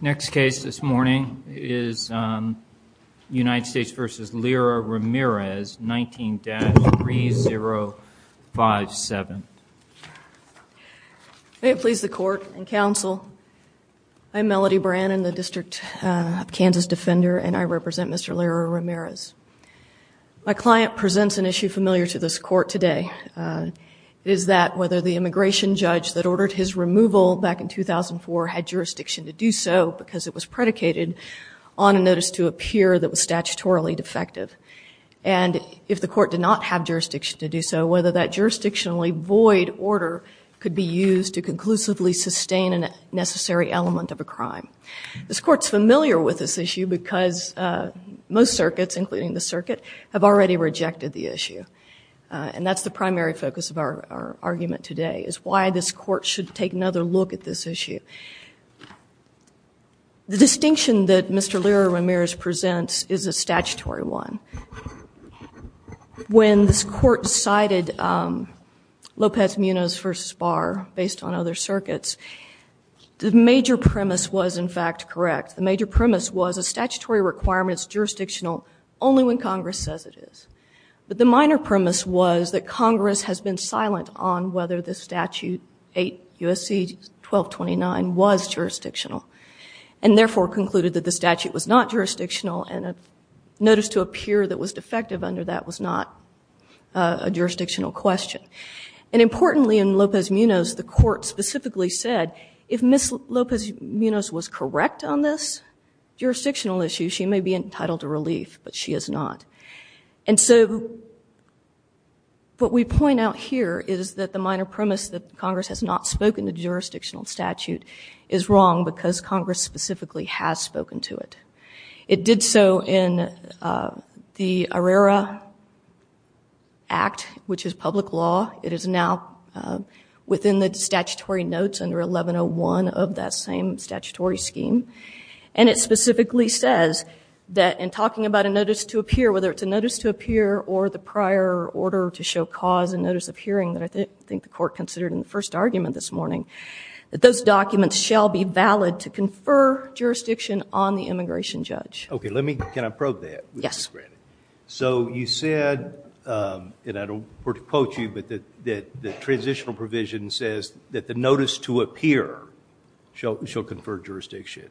Next case this morning is United States v. Lira-Ramirez, 19-3057. May it please the court and counsel, I'm Melody Brannon, the District of Kansas Defender, and I represent Mr. Lira-Ramirez. My client presents an issue familiar to this court today, is that whether the jurisdiction to do so, because it was predicated on a notice to a peer that was statutorily defective, and if the court did not have jurisdiction to do so, whether that jurisdictionally void order could be used to conclusively sustain a necessary element of a crime. This court's familiar with this issue because most circuits, including the circuit, have already rejected the issue. And that's the primary focus of our argument today, is why this court should take another look at this issue. The distinction that Mr. Lira-Ramirez presents is a statutory one. When this court cited Lopez-Munoz v. Barr, based on other circuits, the major premise was in fact correct. The major premise was a statutory requirement is jurisdictional only when Congress says it is. But the minor premise was that Congress has been silent on whether the statute 8 U.S.C. 1229 was jurisdictional, and therefore concluded that the statute was not jurisdictional, and a notice to a peer that was defective under that was not a jurisdictional question. And importantly in Lopez-Munoz, the court specifically said, if Ms. Lopez-Munoz was correct on this jurisdictional issue, she may be entitled to relief, but she is not. And so what we point out here is that the minor premise that Congress has not spoken to jurisdictional statute is wrong because Congress specifically has spoken to it. It did so in the Arrara Act, which is public law. It is now within the statutory notes under 1101 of that same statutory scheme. And it specifically says that, in talking about a notice to a peer, whether it's a notice to a peer or the prior order to show cause and notice of hearing that I think the court considered in the first argument this morning, that those documents shall be valid to confer jurisdiction on the immigration judge. Okay. Let me, can I probe that? Yes. So you said, and I don't want to quote you, but the transitional provision says that the notice to a peer shall confer jurisdiction.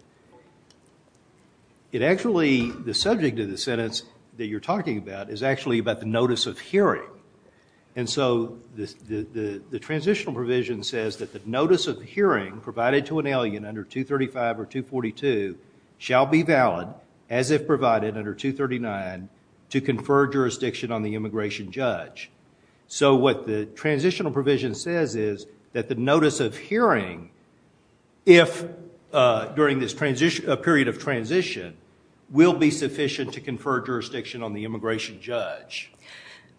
It actually, the subject of the sentence that you're talking about is actually about the notice of hearing. And so the transitional provision says that the notice of hearing provided to an alien under 235 or 242 shall be valid as if provided under 239 to confer jurisdiction on the immigration judge. So what the transitional provision says is that the notice of hearing, if during this period of transition, will be sufficient to confer jurisdiction on the immigration judge.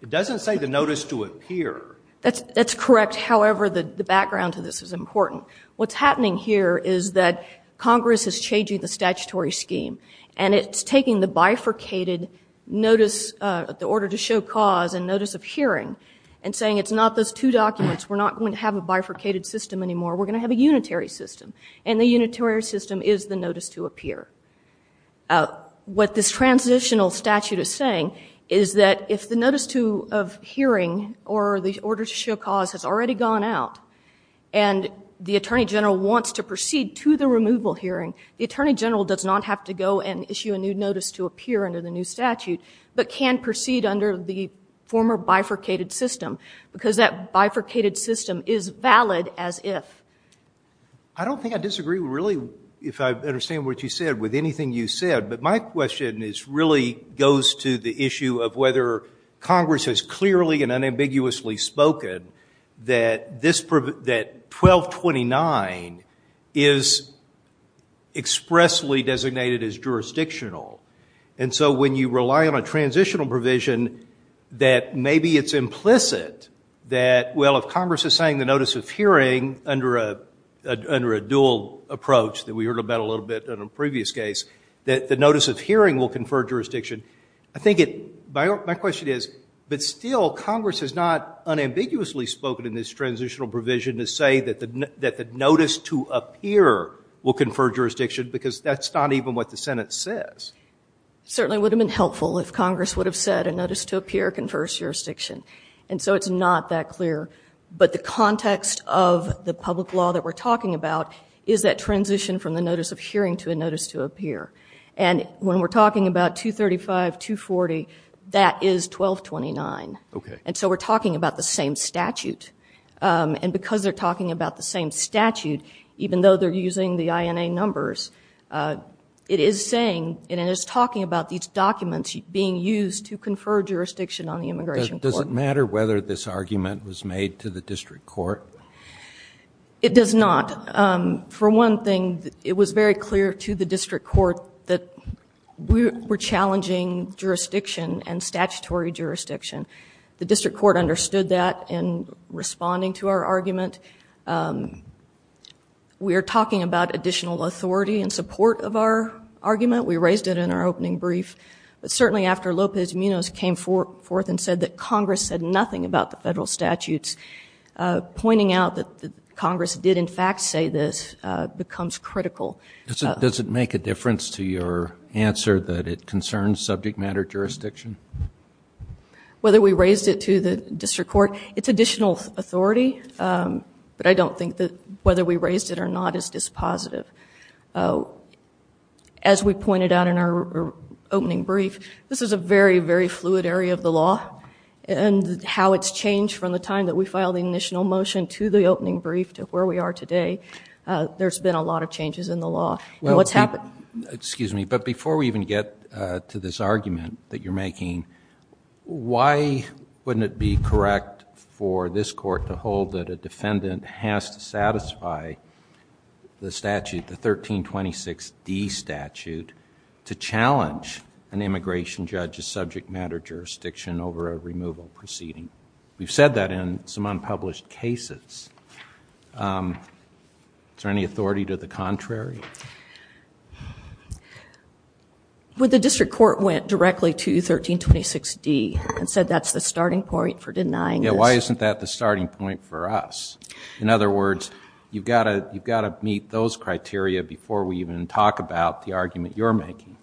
It doesn't say the notice to a peer. That's correct. However, the background to this is important. What's happening here is that Congress is changing the statutory scheme and it's taking the bifurcated notice, the order to show cause and notice of hearing and saying, it's not those two documents. We're not going to have a bifurcated system anymore. We're going to have a unitary system. And the unitary system is the notice to appear. What this transitional statute is saying is that if the notice to, of hearing or the order to show cause has already gone out and the attorney general wants to proceed to the removal hearing, the attorney general does not have to go and issue a new notice to appear under the new statute, but can proceed under the former bifurcated system because that bifurcated system is valid as if. I don't think I disagree really, if I understand what you said, with anything you said, but my question is really goes to the issue of whether Congress has clearly and unambiguously spoken that this, that 1229 is expressly designated as jurisdictional. And so when you rely on a transitional provision that maybe it's implicit that well, if Congress is saying the notice of hearing under a, under a dual approach that we heard about a little bit in a previous case, that the notice of hearing will confer jurisdiction. I think it, my, my question is, but still Congress has not unambiguously spoken in this transitional provision to say that the, that the notice to appear will confer jurisdiction because that's not even what the Senate says. Certainly would have been helpful if Congress would have said a notice to appear confers jurisdiction. And so it's not that clear, but the context of the public law that we're talking about is that transition from the notice of hearing to a notice to appear. And when we're talking about 235, 240, that is 1229. And so we're talking about the same statute. And because they're talking about the same statute, even though they're using the INA numbers, it is saying, and it is talking about these documents being used to confer jurisdiction on the immigration court. Does it matter whether this argument was made to the district court? It does not. Um, for one thing, it was very clear to the district court that we were challenging jurisdiction and statutory jurisdiction. The district court understood that in responding to our argument. Um, we are talking about additional authority and support of our argument. We raised it in our opening brief. Certainly after Lopez Munoz came forth and said that Congress said nothing about the federal statutes, uh, pointing out that Congress did in fact say this, uh, becomes critical. Does it make a difference to your answer that it concerns subject matter jurisdiction? Whether we raised it to the district court, it's additional authority. Um, but I don't think that whether we raised it or not is dispositive. Uh, as we pointed out in our opening brief, this is a very, very fluid area of the law and how it's changed from the time that we filed the initial motion to the opening brief to where we are today. Uh, there's been a lot of changes in the law and what's happened. Excuse me. But before we even get to this argument that you're making, why wouldn't it be correct for this court to hold that a defendant has to satisfy the statute, the 1326D statute to challenge an immigration judge's subject matter jurisdiction over a removal proceeding? We've said that in some unpublished cases. Um, is there any authority to the contrary? Well, the district court went directly to 1326D and said that's the starting point for denying this. Why isn't that the starting point for us? In other words, you've got to, you've got to meet those criteria before we even talk about the argument you're making.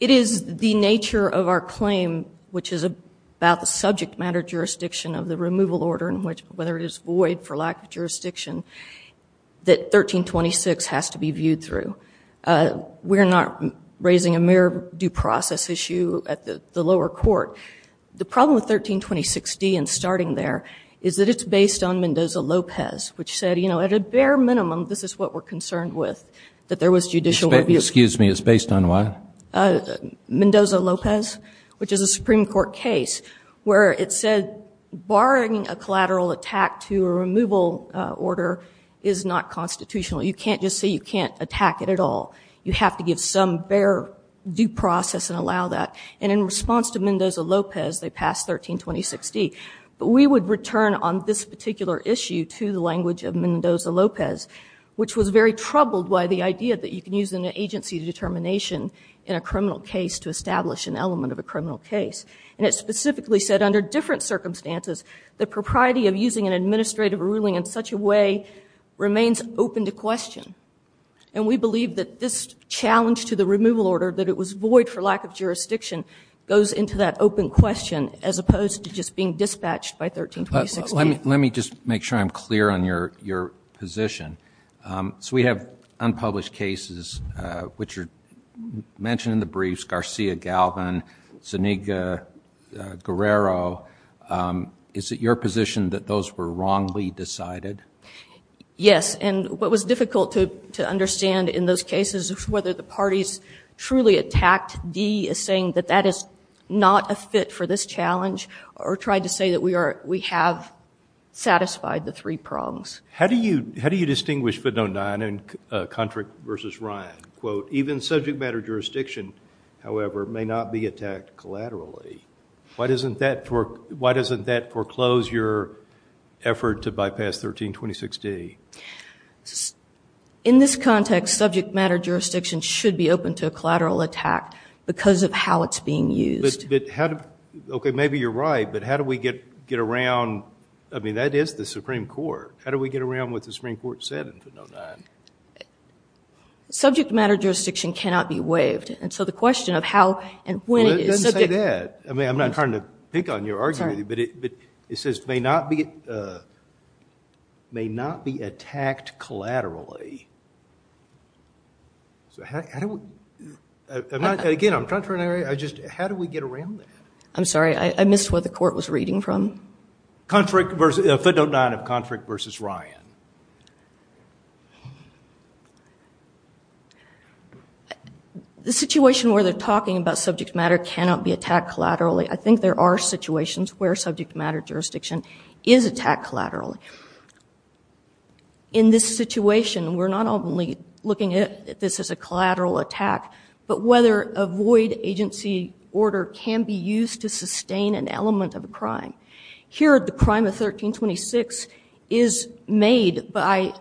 It is the nature of our claim, which is about the subject matter jurisdiction of the removal order in which, whether it is void for lack of jurisdiction that 1326 has to be viewed through. Uh, we're not raising a mere due process issue at the lower court. The problem with 1326D and starting there is that it's based on Mendoza Lopez, which said, you know, at a bare minimum, this is what we're concerned with, that there was judicial review. Excuse me. It's based on what? Uh, Mendoza Lopez, which is a Supreme court case where it said, barring a collateral attack to a removal order is not constitutional. You can't just say you can't attack it at all. You have to give some bare due process and allow that. And in response to Mendoza Lopez, they passed 1326D, but we would return on this particular issue to the language of Mendoza Lopez, which was very troubled by the idea that you can use an agency determination in a criminal case to establish an element of a criminal case. And it specifically said under different circumstances, the propriety of using an administrative ruling in such a way remains open to question. And we believe that this challenge to the removal order, that it was void for lack of jurisdiction, goes into that open question as opposed to just being dispatched by 1326D. Let me just make sure I'm clear on your, your position. Um, so we have unpublished cases, uh, which are mentioned in the briefs, Garcia, Galvin, Zuniga, Guerrero. Um, is it your position that those were wrongly decided? Yes. And what was difficult to, to understand in those cases is whether the Act D is saying that that is not a fit for this challenge or tried to say that we are, we have satisfied the three prongs. How do you, how do you distinguish FIT09 and, uh, Contract versus Ryan? Quote, even subject matter jurisdiction, however, may not be attacked collaterally. Why doesn't that work? Why doesn't that foreclose your effort to bypass 1326D? In this context, subject matter jurisdiction should be open to a because of how it's being used. But how do, okay, maybe you're right, but how do we get, get around? I mean, that is the Supreme Court. How do we get around what the Supreme Court said in FIT09? Subject matter jurisdiction cannot be waived. And so the question of how and when it is. It doesn't say that. I mean, I'm not trying to pick on your argument, but it, but it says may not be, uh, may not be attacked collaterally. So how, how do we, again, I'm trying for an area, I just, how do we get around that? I'm sorry. I missed what the court was reading from. Contract versus, FIT09 of Contract versus Ryan. The situation where they're talking about subject matter cannot be attacked collaterally. I think there are situations where subject matter jurisdiction is attacked collaterally. In this situation, we're not only looking at this as a collateral attack, but whether a void agency order can be used to sustain an element of a crime. Here, the crime of 1326 is made by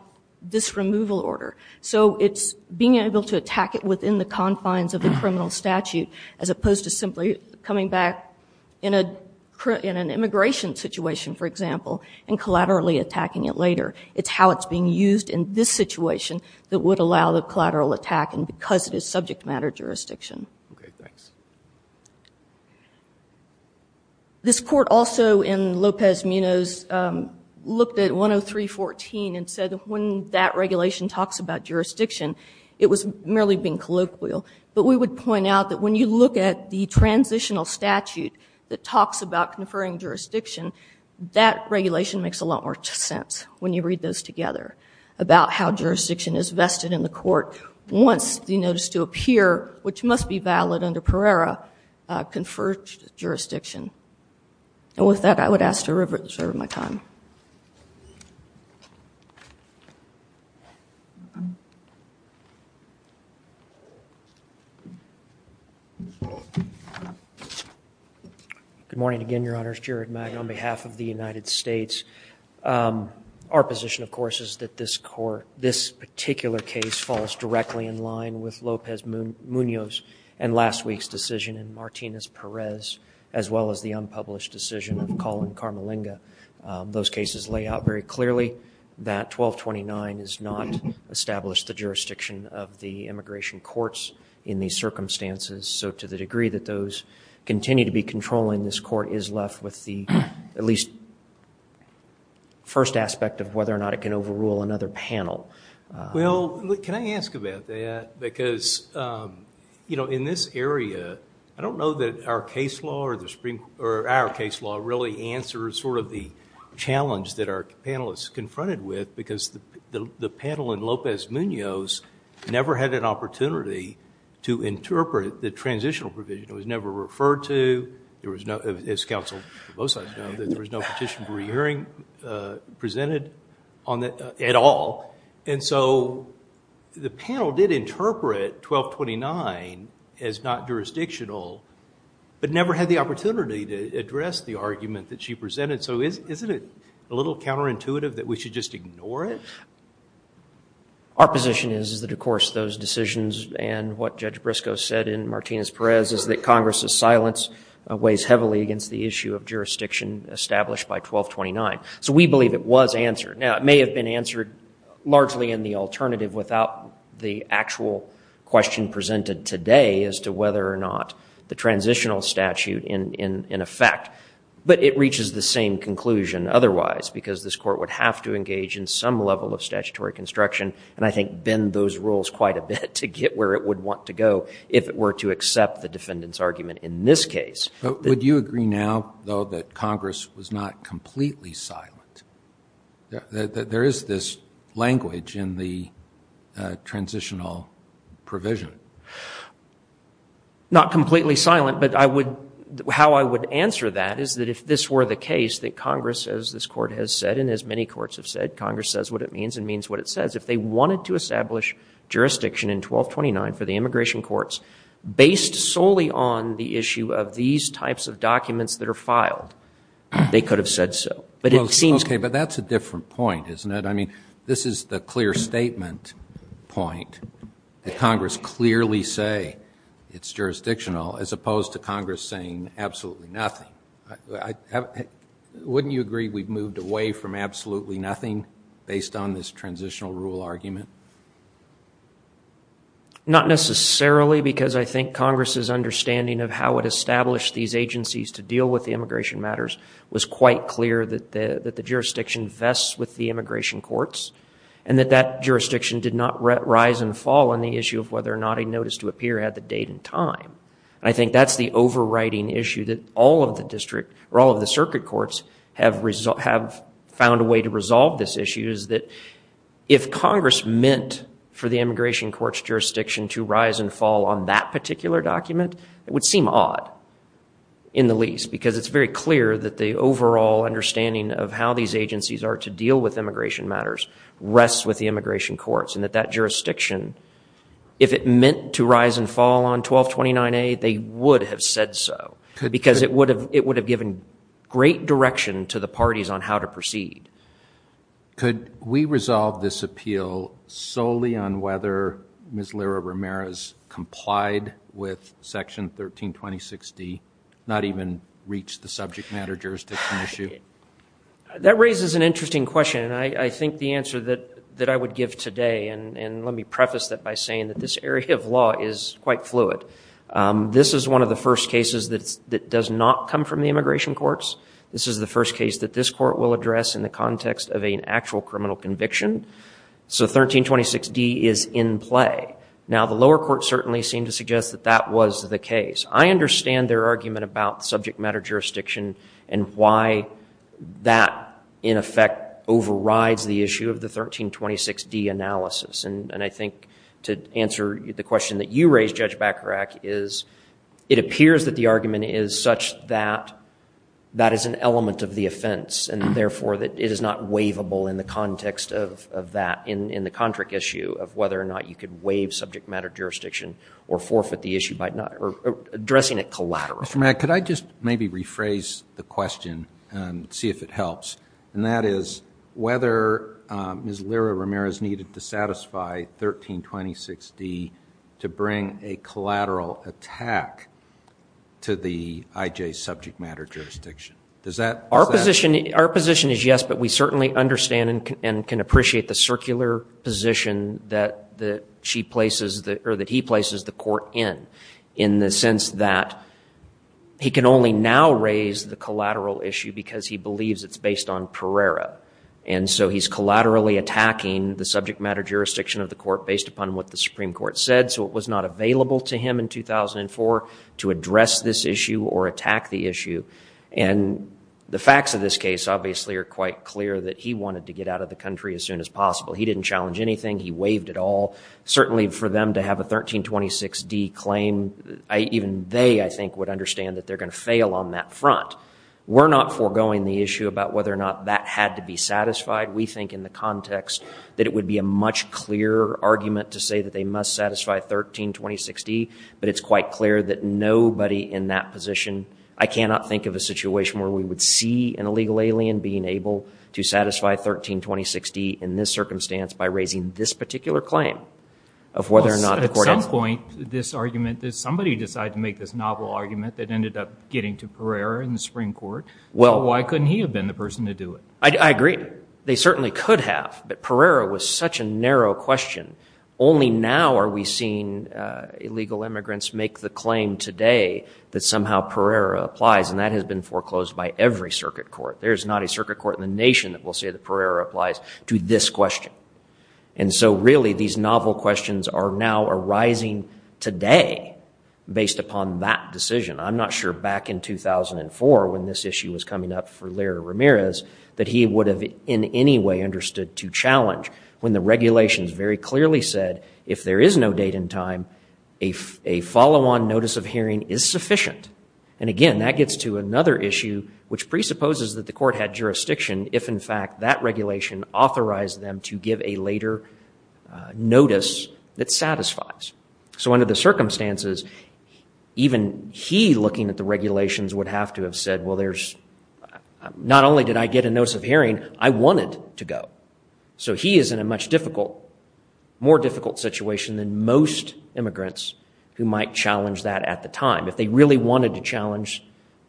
this removal order. So it's being able to attack it within the confines of the criminal statute, as opposed to simply coming back in a, in an immigration situation, for example, and collaterally attacking it later. It's how it's being used in this situation that would allow the collateral attack and because it is subject matter jurisdiction. Okay. Thanks. This court also in Lopez Munoz, um, looked at 10314 and said when that regulation talks about jurisdiction, it was merely being colloquial, but we would point out that when you look at the transitional statute that talks about conferring jurisdiction, that regulation makes a lot more sense when you read those together about how jurisdiction is vested in the court. Once the notice to appear, which must be valid under Pereira, uh, conferred jurisdiction. And with that, I would ask to reserve my time. Okay. Good morning again, Your Honors. Jared Magna on behalf of the United States. Um, our position of course, is that this court, this particular case falls directly in line with Lopez Munoz and last week's decision in Martinez Perez, as well as the unpublished decision of Colin Carmalinga. Um, those cases lay out very clearly that 1229 is not established the jurisdiction of the immigration courts in these circumstances. So to the degree that those continue to be controlling, this court is left with the, at least first aspect of whether or not it can overrule another panel. Uh, well, can I ask about that? Because, um, you know, in this area, I don't know that our case law or the challenge that our panelists confronted with, because the panel in Lopez Munoz never had an opportunity to interpret the transitional provision. It was never referred to. There was no, as counsel for both sides know, that there was no petition for re-hearing, uh, presented on that at all. And so the panel did interpret 1229 as not jurisdictional, but never had the opportunity to address the argument that she presented. So is, isn't it a little counterintuitive that we should just ignore it? Our position is that, of course, those decisions and what Judge Briscoe said in Martinez-Perez is that Congress's silence weighs heavily against the issue of jurisdiction established by 1229. So we believe it was answered. Now it may have been answered largely in the alternative without the actual question presented today as to whether or not the transitional statute in, in, in effect, but it reaches the same conclusion otherwise, because this court would have to engage in some level of statutory construction. And I think bend those rules quite a bit to get where it would want to go. If it were to accept the defendant's argument in this case. But would you agree now though, that Congress was not completely silent? That there is this language in the transitional provision? Not completely silent, but I would, how I would answer that is that if this were the case that Congress says, this court has said, and as many courts have said, Congress says what it means and means what it says. If they wanted to establish jurisdiction in 1229 for the immigration courts based solely on the issue of these types of documents that are filed, they could have said so, but it seems. Okay. But that's a different point, isn't it? I mean, this is the clear statement point that Congress clearly said, clearly say it's jurisdictional as opposed to Congress saying absolutely nothing. Wouldn't you agree we've moved away from absolutely nothing based on this transitional rule argument? Not necessarily, because I think Congress's understanding of how it established these agencies to deal with the immigration matters was quite clear that the jurisdiction vests with the immigration courts, and that that jurisdiction did not rise and fall on the issue of whether or not a notice to appear had the date and time. And I think that's the overriding issue that all of the district, or all of the circuit courts, have found a way to resolve this issue is that if Congress meant for the immigration courts jurisdiction to rise and fall on that particular document, it would seem odd in the least, because it's very clear that the overall understanding of how these agencies are to deal with immigration matters rests with the jurisdiction. If it meant to rise and fall on 1229A, they would have said so, because it would have given great direction to the parties on how to proceed. Could we resolve this appeal solely on whether Ms. Lira-Ramirez complied with Section 1326D, not even reach the subject matter jurisdiction issue? That raises an interesting question, and I think the answer that I would give today, and let me preface that by saying that this area of law is quite fluid, this is one of the first cases that does not come from the immigration courts. This is the first case that this court will address in the context of an actual criminal conviction. So 1326D is in play. Now, the lower court certainly seemed to suggest that that was the case. I understand their argument about subject matter jurisdiction and why that, in effect, overrides the issue of the 1326D analysis. And I think to answer the question that you raised, Judge Bacharach, is it appears that the argument is such that that is an element of the offense, and therefore that it is not waivable in the context of that, in the contract issue of whether or not you could waive subject matter jurisdiction or forfeit the issue by not addressing it collateral. Mr. Mack, could I just maybe rephrase the question and see if it helps, and that is whether Ms. Lira-Ramirez needed to satisfy 1326D to bring a collateral attack to the IJ subject matter jurisdiction. Does that... Our position is yes, but we certainly understand and can appreciate the circular position that she places, or that he places the court in, in the sense that he can only now raise the collateral issue because he believes it's based on Pereira. And so he's collaterally attacking the subject matter jurisdiction of the court based upon what the Supreme Court said, so it was not available to him in 2004 to address this issue or attack the issue. And the facts of this case, obviously, are quite clear that he wanted to get out of the country as soon as possible. He didn't challenge anything. He waived it all. Certainly for them to have a 1326D claim, even they, I think, would understand that they're going to fail on that front. We're not foregoing the issue about whether or not that had to be satisfied. We think in the context that it would be a much clearer argument to say that they must satisfy 1326D, but it's quite clear that nobody in that position... I cannot think of a situation where we would see an illegal alien being able to satisfy 1326D in this circumstance by raising this particular claim of whether or not the court has to... At some point, this argument... Somebody decided to make this novel argument that ended up getting to Pereira in the Supreme Court. Why couldn't he have been the person to do it? I agree. They certainly could have, but Pereira was such a narrow question. Only now are we seeing illegal immigrants make the claim today that somehow Pereira applies, and that has been foreclosed by every circuit court. There's not a circuit court in the nation that will say that Pereira applies to this question. And so really, these novel questions are now arising today based upon that decision. I'm not sure back in 2004, when this issue was coming up for Leroy Ramirez, that he would have in any way understood to challenge when the regulations very clearly said, if there is no date and time, a follow-on notice of hearing is sufficient. And again, that gets to another issue which presupposes that the court had jurisdiction if, in fact, that regulation authorized them to give a later notice that satisfies. So under the circumstances, even he looking at the regulations would have to have said, well, there's... Not only did I get a notice of hearing, I wanted to go. So he is in a much difficult, more difficult situation than most immigrants who might challenge that at the time, if they really wanted to challenge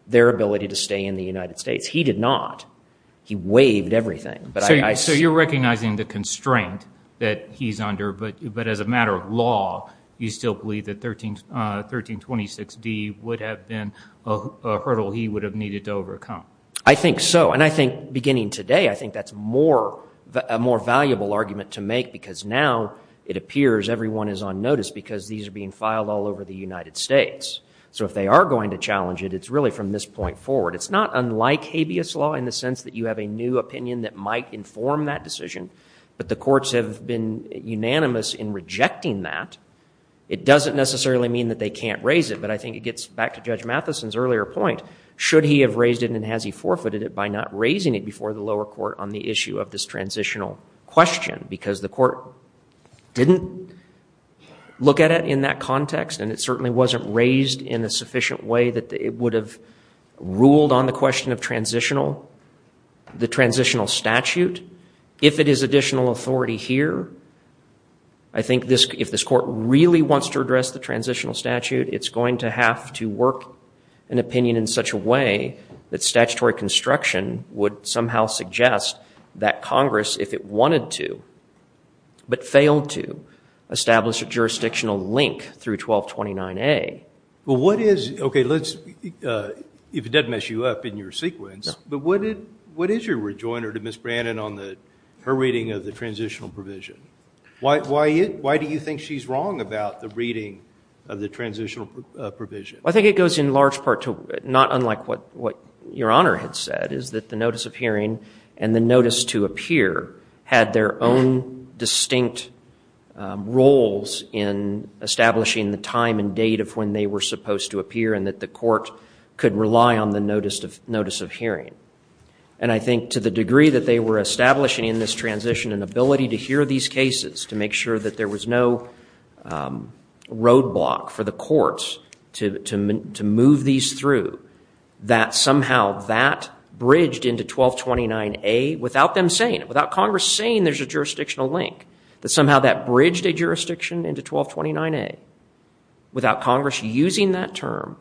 their ability to stay in the United States. He did not. He waived everything. So you're recognizing the constraint that he's under, but as a matter of law, you still believe that 1326D would have been a hurdle he would have needed to overcome? I think so. And I think, beginning today, I think that's a more valuable argument to make because now it appears everyone is on notice because these are being filed all over the United States. So if they are going to challenge it, it's really from this point forward. It's not unlike habeas law in the sense that you have a new opinion that might inform that decision, but the courts have been unanimous in rejecting that. It doesn't necessarily mean that they can't raise it, but I think it gets back to Judge Matheson's earlier point. Should he have raised it and has he forfeited it by not raising it before the lower court on the issue of this transitional question? Because the court didn't look at it in that context and it certainly wasn't raised in a sufficient way that it would have ruled on the question of the transitional statute. If it is additional authority here, I think if this court really wants to address the transitional statute, it's going to have to work an opinion in such a way that statutory construction would somehow suggest that Congress, if it wanted to, but failed to, establish a jurisdictional link through 1229A. Well, what is, okay, let's, if it doesn't mess you up in your sequence, but what is your rejoinder to Ms. Brannon on her reading of the transitional provision? Why do you think she's wrong about the reading of the transitional provision? I think it goes in large part to, not unlike what your Honor had said, is that the notice of hearing and the notice to appear had their own distinct roles in establishing the time and date of when they were supposed to appear and that the court could rely on the notice of hearing. And I think to the degree that they were establishing in this transition an ability to hear these cases, to make sure that there was no roadblock for the courts to move these through, that somehow that bridged into 1229A without them saying it, without Congress saying there's a jurisdictional link, that somehow that bridged a jurisdiction into 1229A without Congress using that term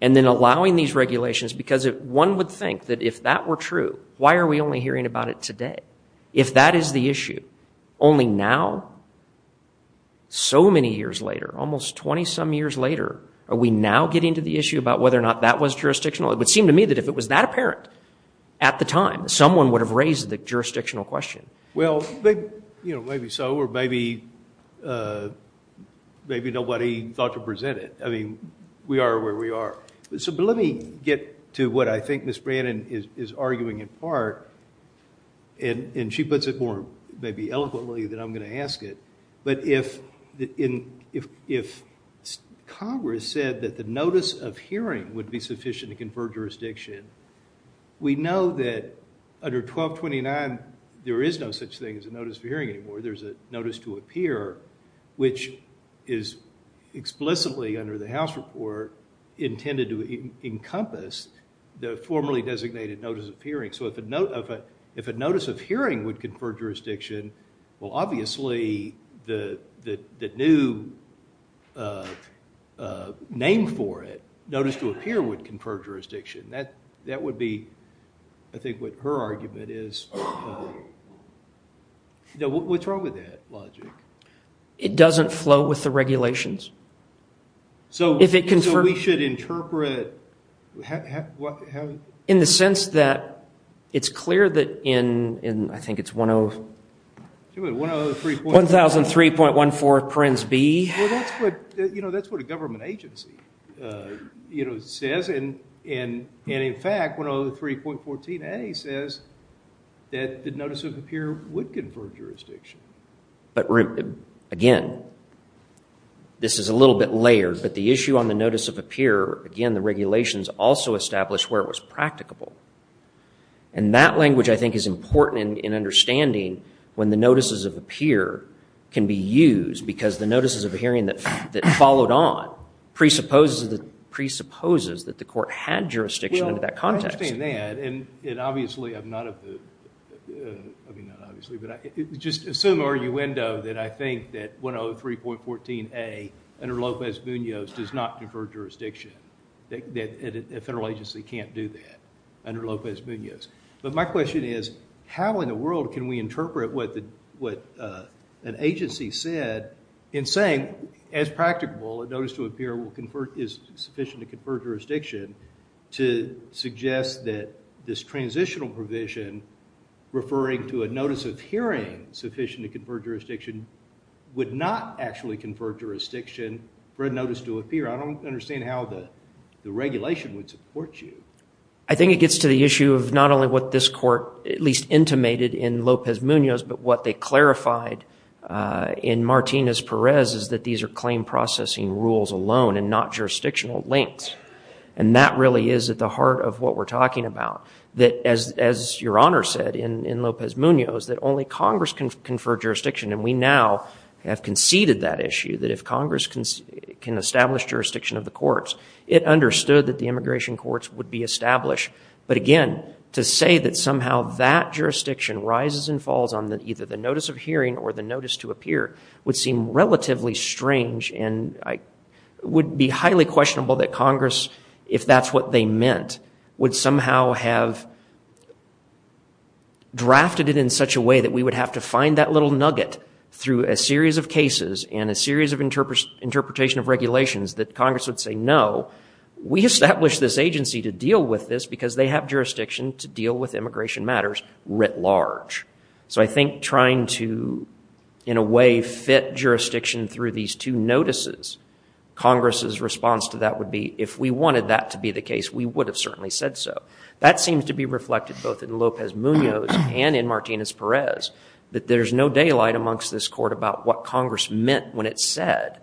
and then allowing these regulations because one would think that if that were true, why are we only hearing about it today? If that is the issue, only now, so many years later, almost 20-some years later, are we now getting to the issue about whether or not that was jurisdictional? It would seem to me that if it was that apparent at the time, someone would have raised the jurisdictional question. Well, maybe so, or maybe nobody thought to present it. I mean, we are where we are. But let me get to what I think Ms. Brannon is arguing in part, and she puts it more maybe eloquently than I'm going to ask it, but if Congress said that the notice of hearing would be sufficient to confer jurisdiction, we know that under 1229, there is no such thing as a notice of hearing anymore. There's a notice to appear, which is explicitly under the House report intended to encompass the formerly designated notice of hearing. So, if a notice of hearing would confer jurisdiction, well, obviously, the new name for it, notice to appear, would confer jurisdiction. That would be, I think, what her argument is. What's wrong with that logic? It doesn't flow with the regulations. So, we should interpret... In the sense that it's clear that in, I think it's 103.14 Well, that's what a government agency says, and in fact, 103.14a says that the notice of appear would confer jurisdiction. But again, this is a little bit layered, but the issue on the notice of appear, again, the regulations also establish where it was practicable. And that language, I think, is important in understanding when the notices of appear can be used, because the notices of hearing that followed on presupposes that the court had jurisdiction in that context. Well, I understand that, and obviously, I'm not of the... I mean, not obviously, but just assume a re-window that I think that 103.14a, under Lopez-Munoz, does not confer jurisdiction. A federal agency can't do that under Lopez-Munoz. But my understanding of what an agency said in saying, as practical, a notice to appear is sufficient to confer jurisdiction, to suggest that this transitional provision, referring to a notice of hearing sufficient to confer jurisdiction, would not actually confer jurisdiction for a notice to appear. I don't understand how the regulation would support you. I think it gets to the issue of not only what this court, at least intimated in Lopez-Munoz, but what they clarified in Martinez-Perez, is that these are claim processing rules alone and not jurisdictional links. And that really is at the heart of what we're talking about. That, as your Honor said in Lopez-Munoz, that only Congress can confer jurisdiction. And we now have conceded that issue, that if Congress can establish jurisdiction of the courts, it understood that the immigration courts would be established. But again, to say that somehow that notice of hearing or the notice to appear would seem relatively strange and would be highly questionable that Congress, if that's what they meant, would somehow have drafted it in such a way that we would have to find that little nugget through a series of cases and a series of interpretation of regulations that Congress would say, no, we established this agency to deal with this because they have jurisdiction to deal with immigration matters writ large. So I think trying to, in a way, fit jurisdiction through these two notices, Congress's response to that would be, if we wanted that to be the case, we would have certainly said so. That seems to be reflected both in Lopez-Munoz and in Martinez-Perez, that there's no daylight amongst this court about what Congress meant when it said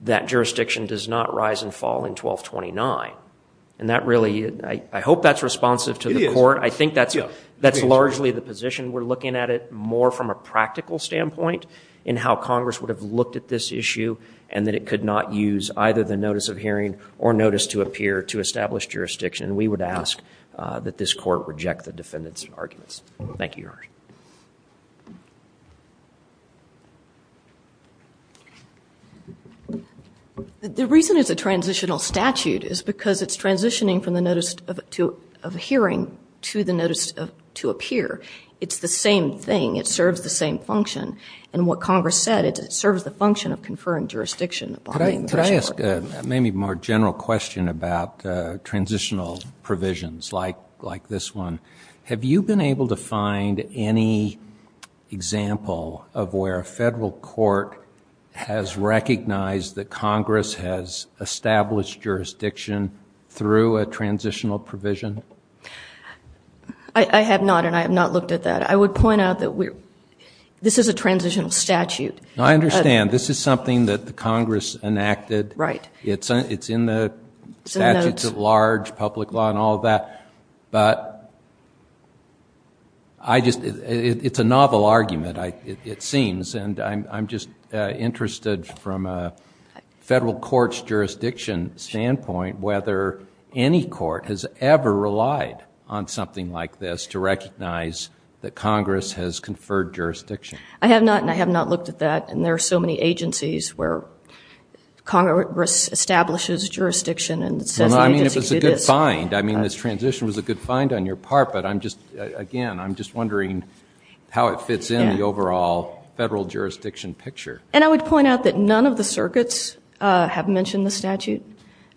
that jurisdiction does not rise and fall in 1229. And that really, I hope that's responsive to the court. I think that's largely the reason we're looking at it more from a practical standpoint in how Congress would have looked at this issue and that it could not use either the notice of hearing or notice to appear to establish jurisdiction. And we would ask that this court reject the defendant's arguments. Thank you, Your Honor. The reason it's a transitional statute is because it's transitioning from the notice to appear. It's the same thing. It serves the same function. And what Congress said, it serves the function of conferring jurisdiction. Could I ask a maybe more general question about transitional provisions like this one? Have you been able to find any example of where a federal court has enacted a transitional provision? I have not, and I have not looked at that. I would point out that this is a transitional statute. I understand. This is something that the Congress enacted. It's in the statutes of large public law and all that. But it's a novel argument, it seems. And I'm just interested from a federal court's jurisdiction standpoint whether any federal court has ever relied on something like this to recognize that Congress has conferred jurisdiction. I have not, and I have not looked at that. And there are so many agencies where Congress establishes jurisdiction and says the agency did this. Well, I mean, if it's a good find. I mean, this transition was a good find on your part. But I'm just, again, I'm just wondering how it fits in the overall federal jurisdiction picture. And I would point out that none of the circuits have mentioned the statute.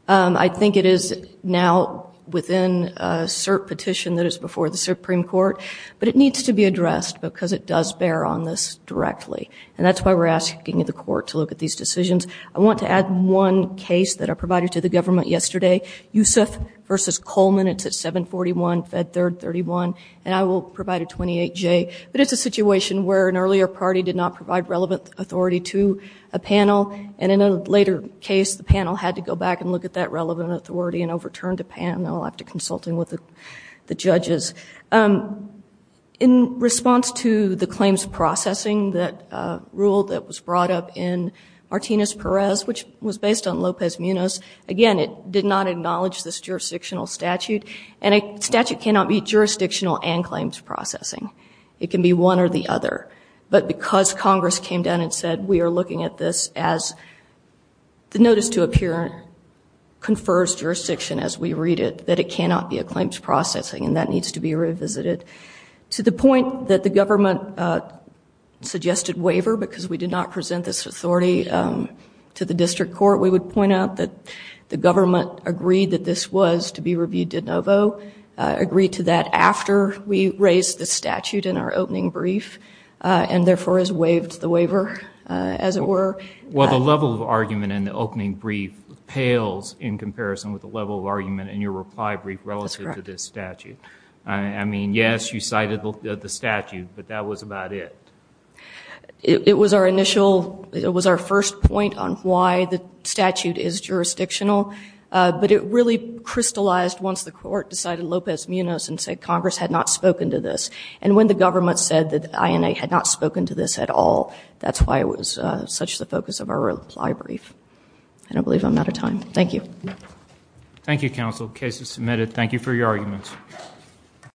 I think it is now within a cert petition that is before the Supreme Court. But it needs to be addressed because it does bear on this directly. And that's why we're asking the court to look at these decisions. I want to add one case that I provided to the government yesterday, Youssef versus Coleman. It's at 741 Fed Third 31. And I will provide a 28J. But it's a situation where an earlier party did not provide relevant authority to a panel. And in a later case, the panel had to go back and look at that relevant authority and overturned the panel after consulting with the judges. In response to the claims processing rule that was brought up in Martinez Perez, which was based on Lopez Munoz, again, it did not acknowledge this jurisdictional statute. And a statute cannot be jurisdictional and claims processing. It can be one or the other. But because Congress came down and said we are looking at this as the notice to appear confers jurisdiction as we read it, that it cannot be a claims processing. And that needs to be revisited. To the point that the government suggested waiver because we did not present this authority to the district court, we would point out that the government agreed that this was to be reviewed de novo, agreed to that after we raised the as it were. Well, the level of argument in the opening brief pales in comparison with the level of argument in your reply brief relative to this statute. I mean, yes, you cited the statute, but that was about it. It was our initial, it was our first point on why the statute is jurisdictional. But it really crystallized once the court decided Lopez Munoz and said Congress had not spoken to this. And when the government said that INA had not such the focus of our reply brief. I don't believe I'm out of time. Thank you. Thank you, counsel. Case is submitted. Thank you for your arguments.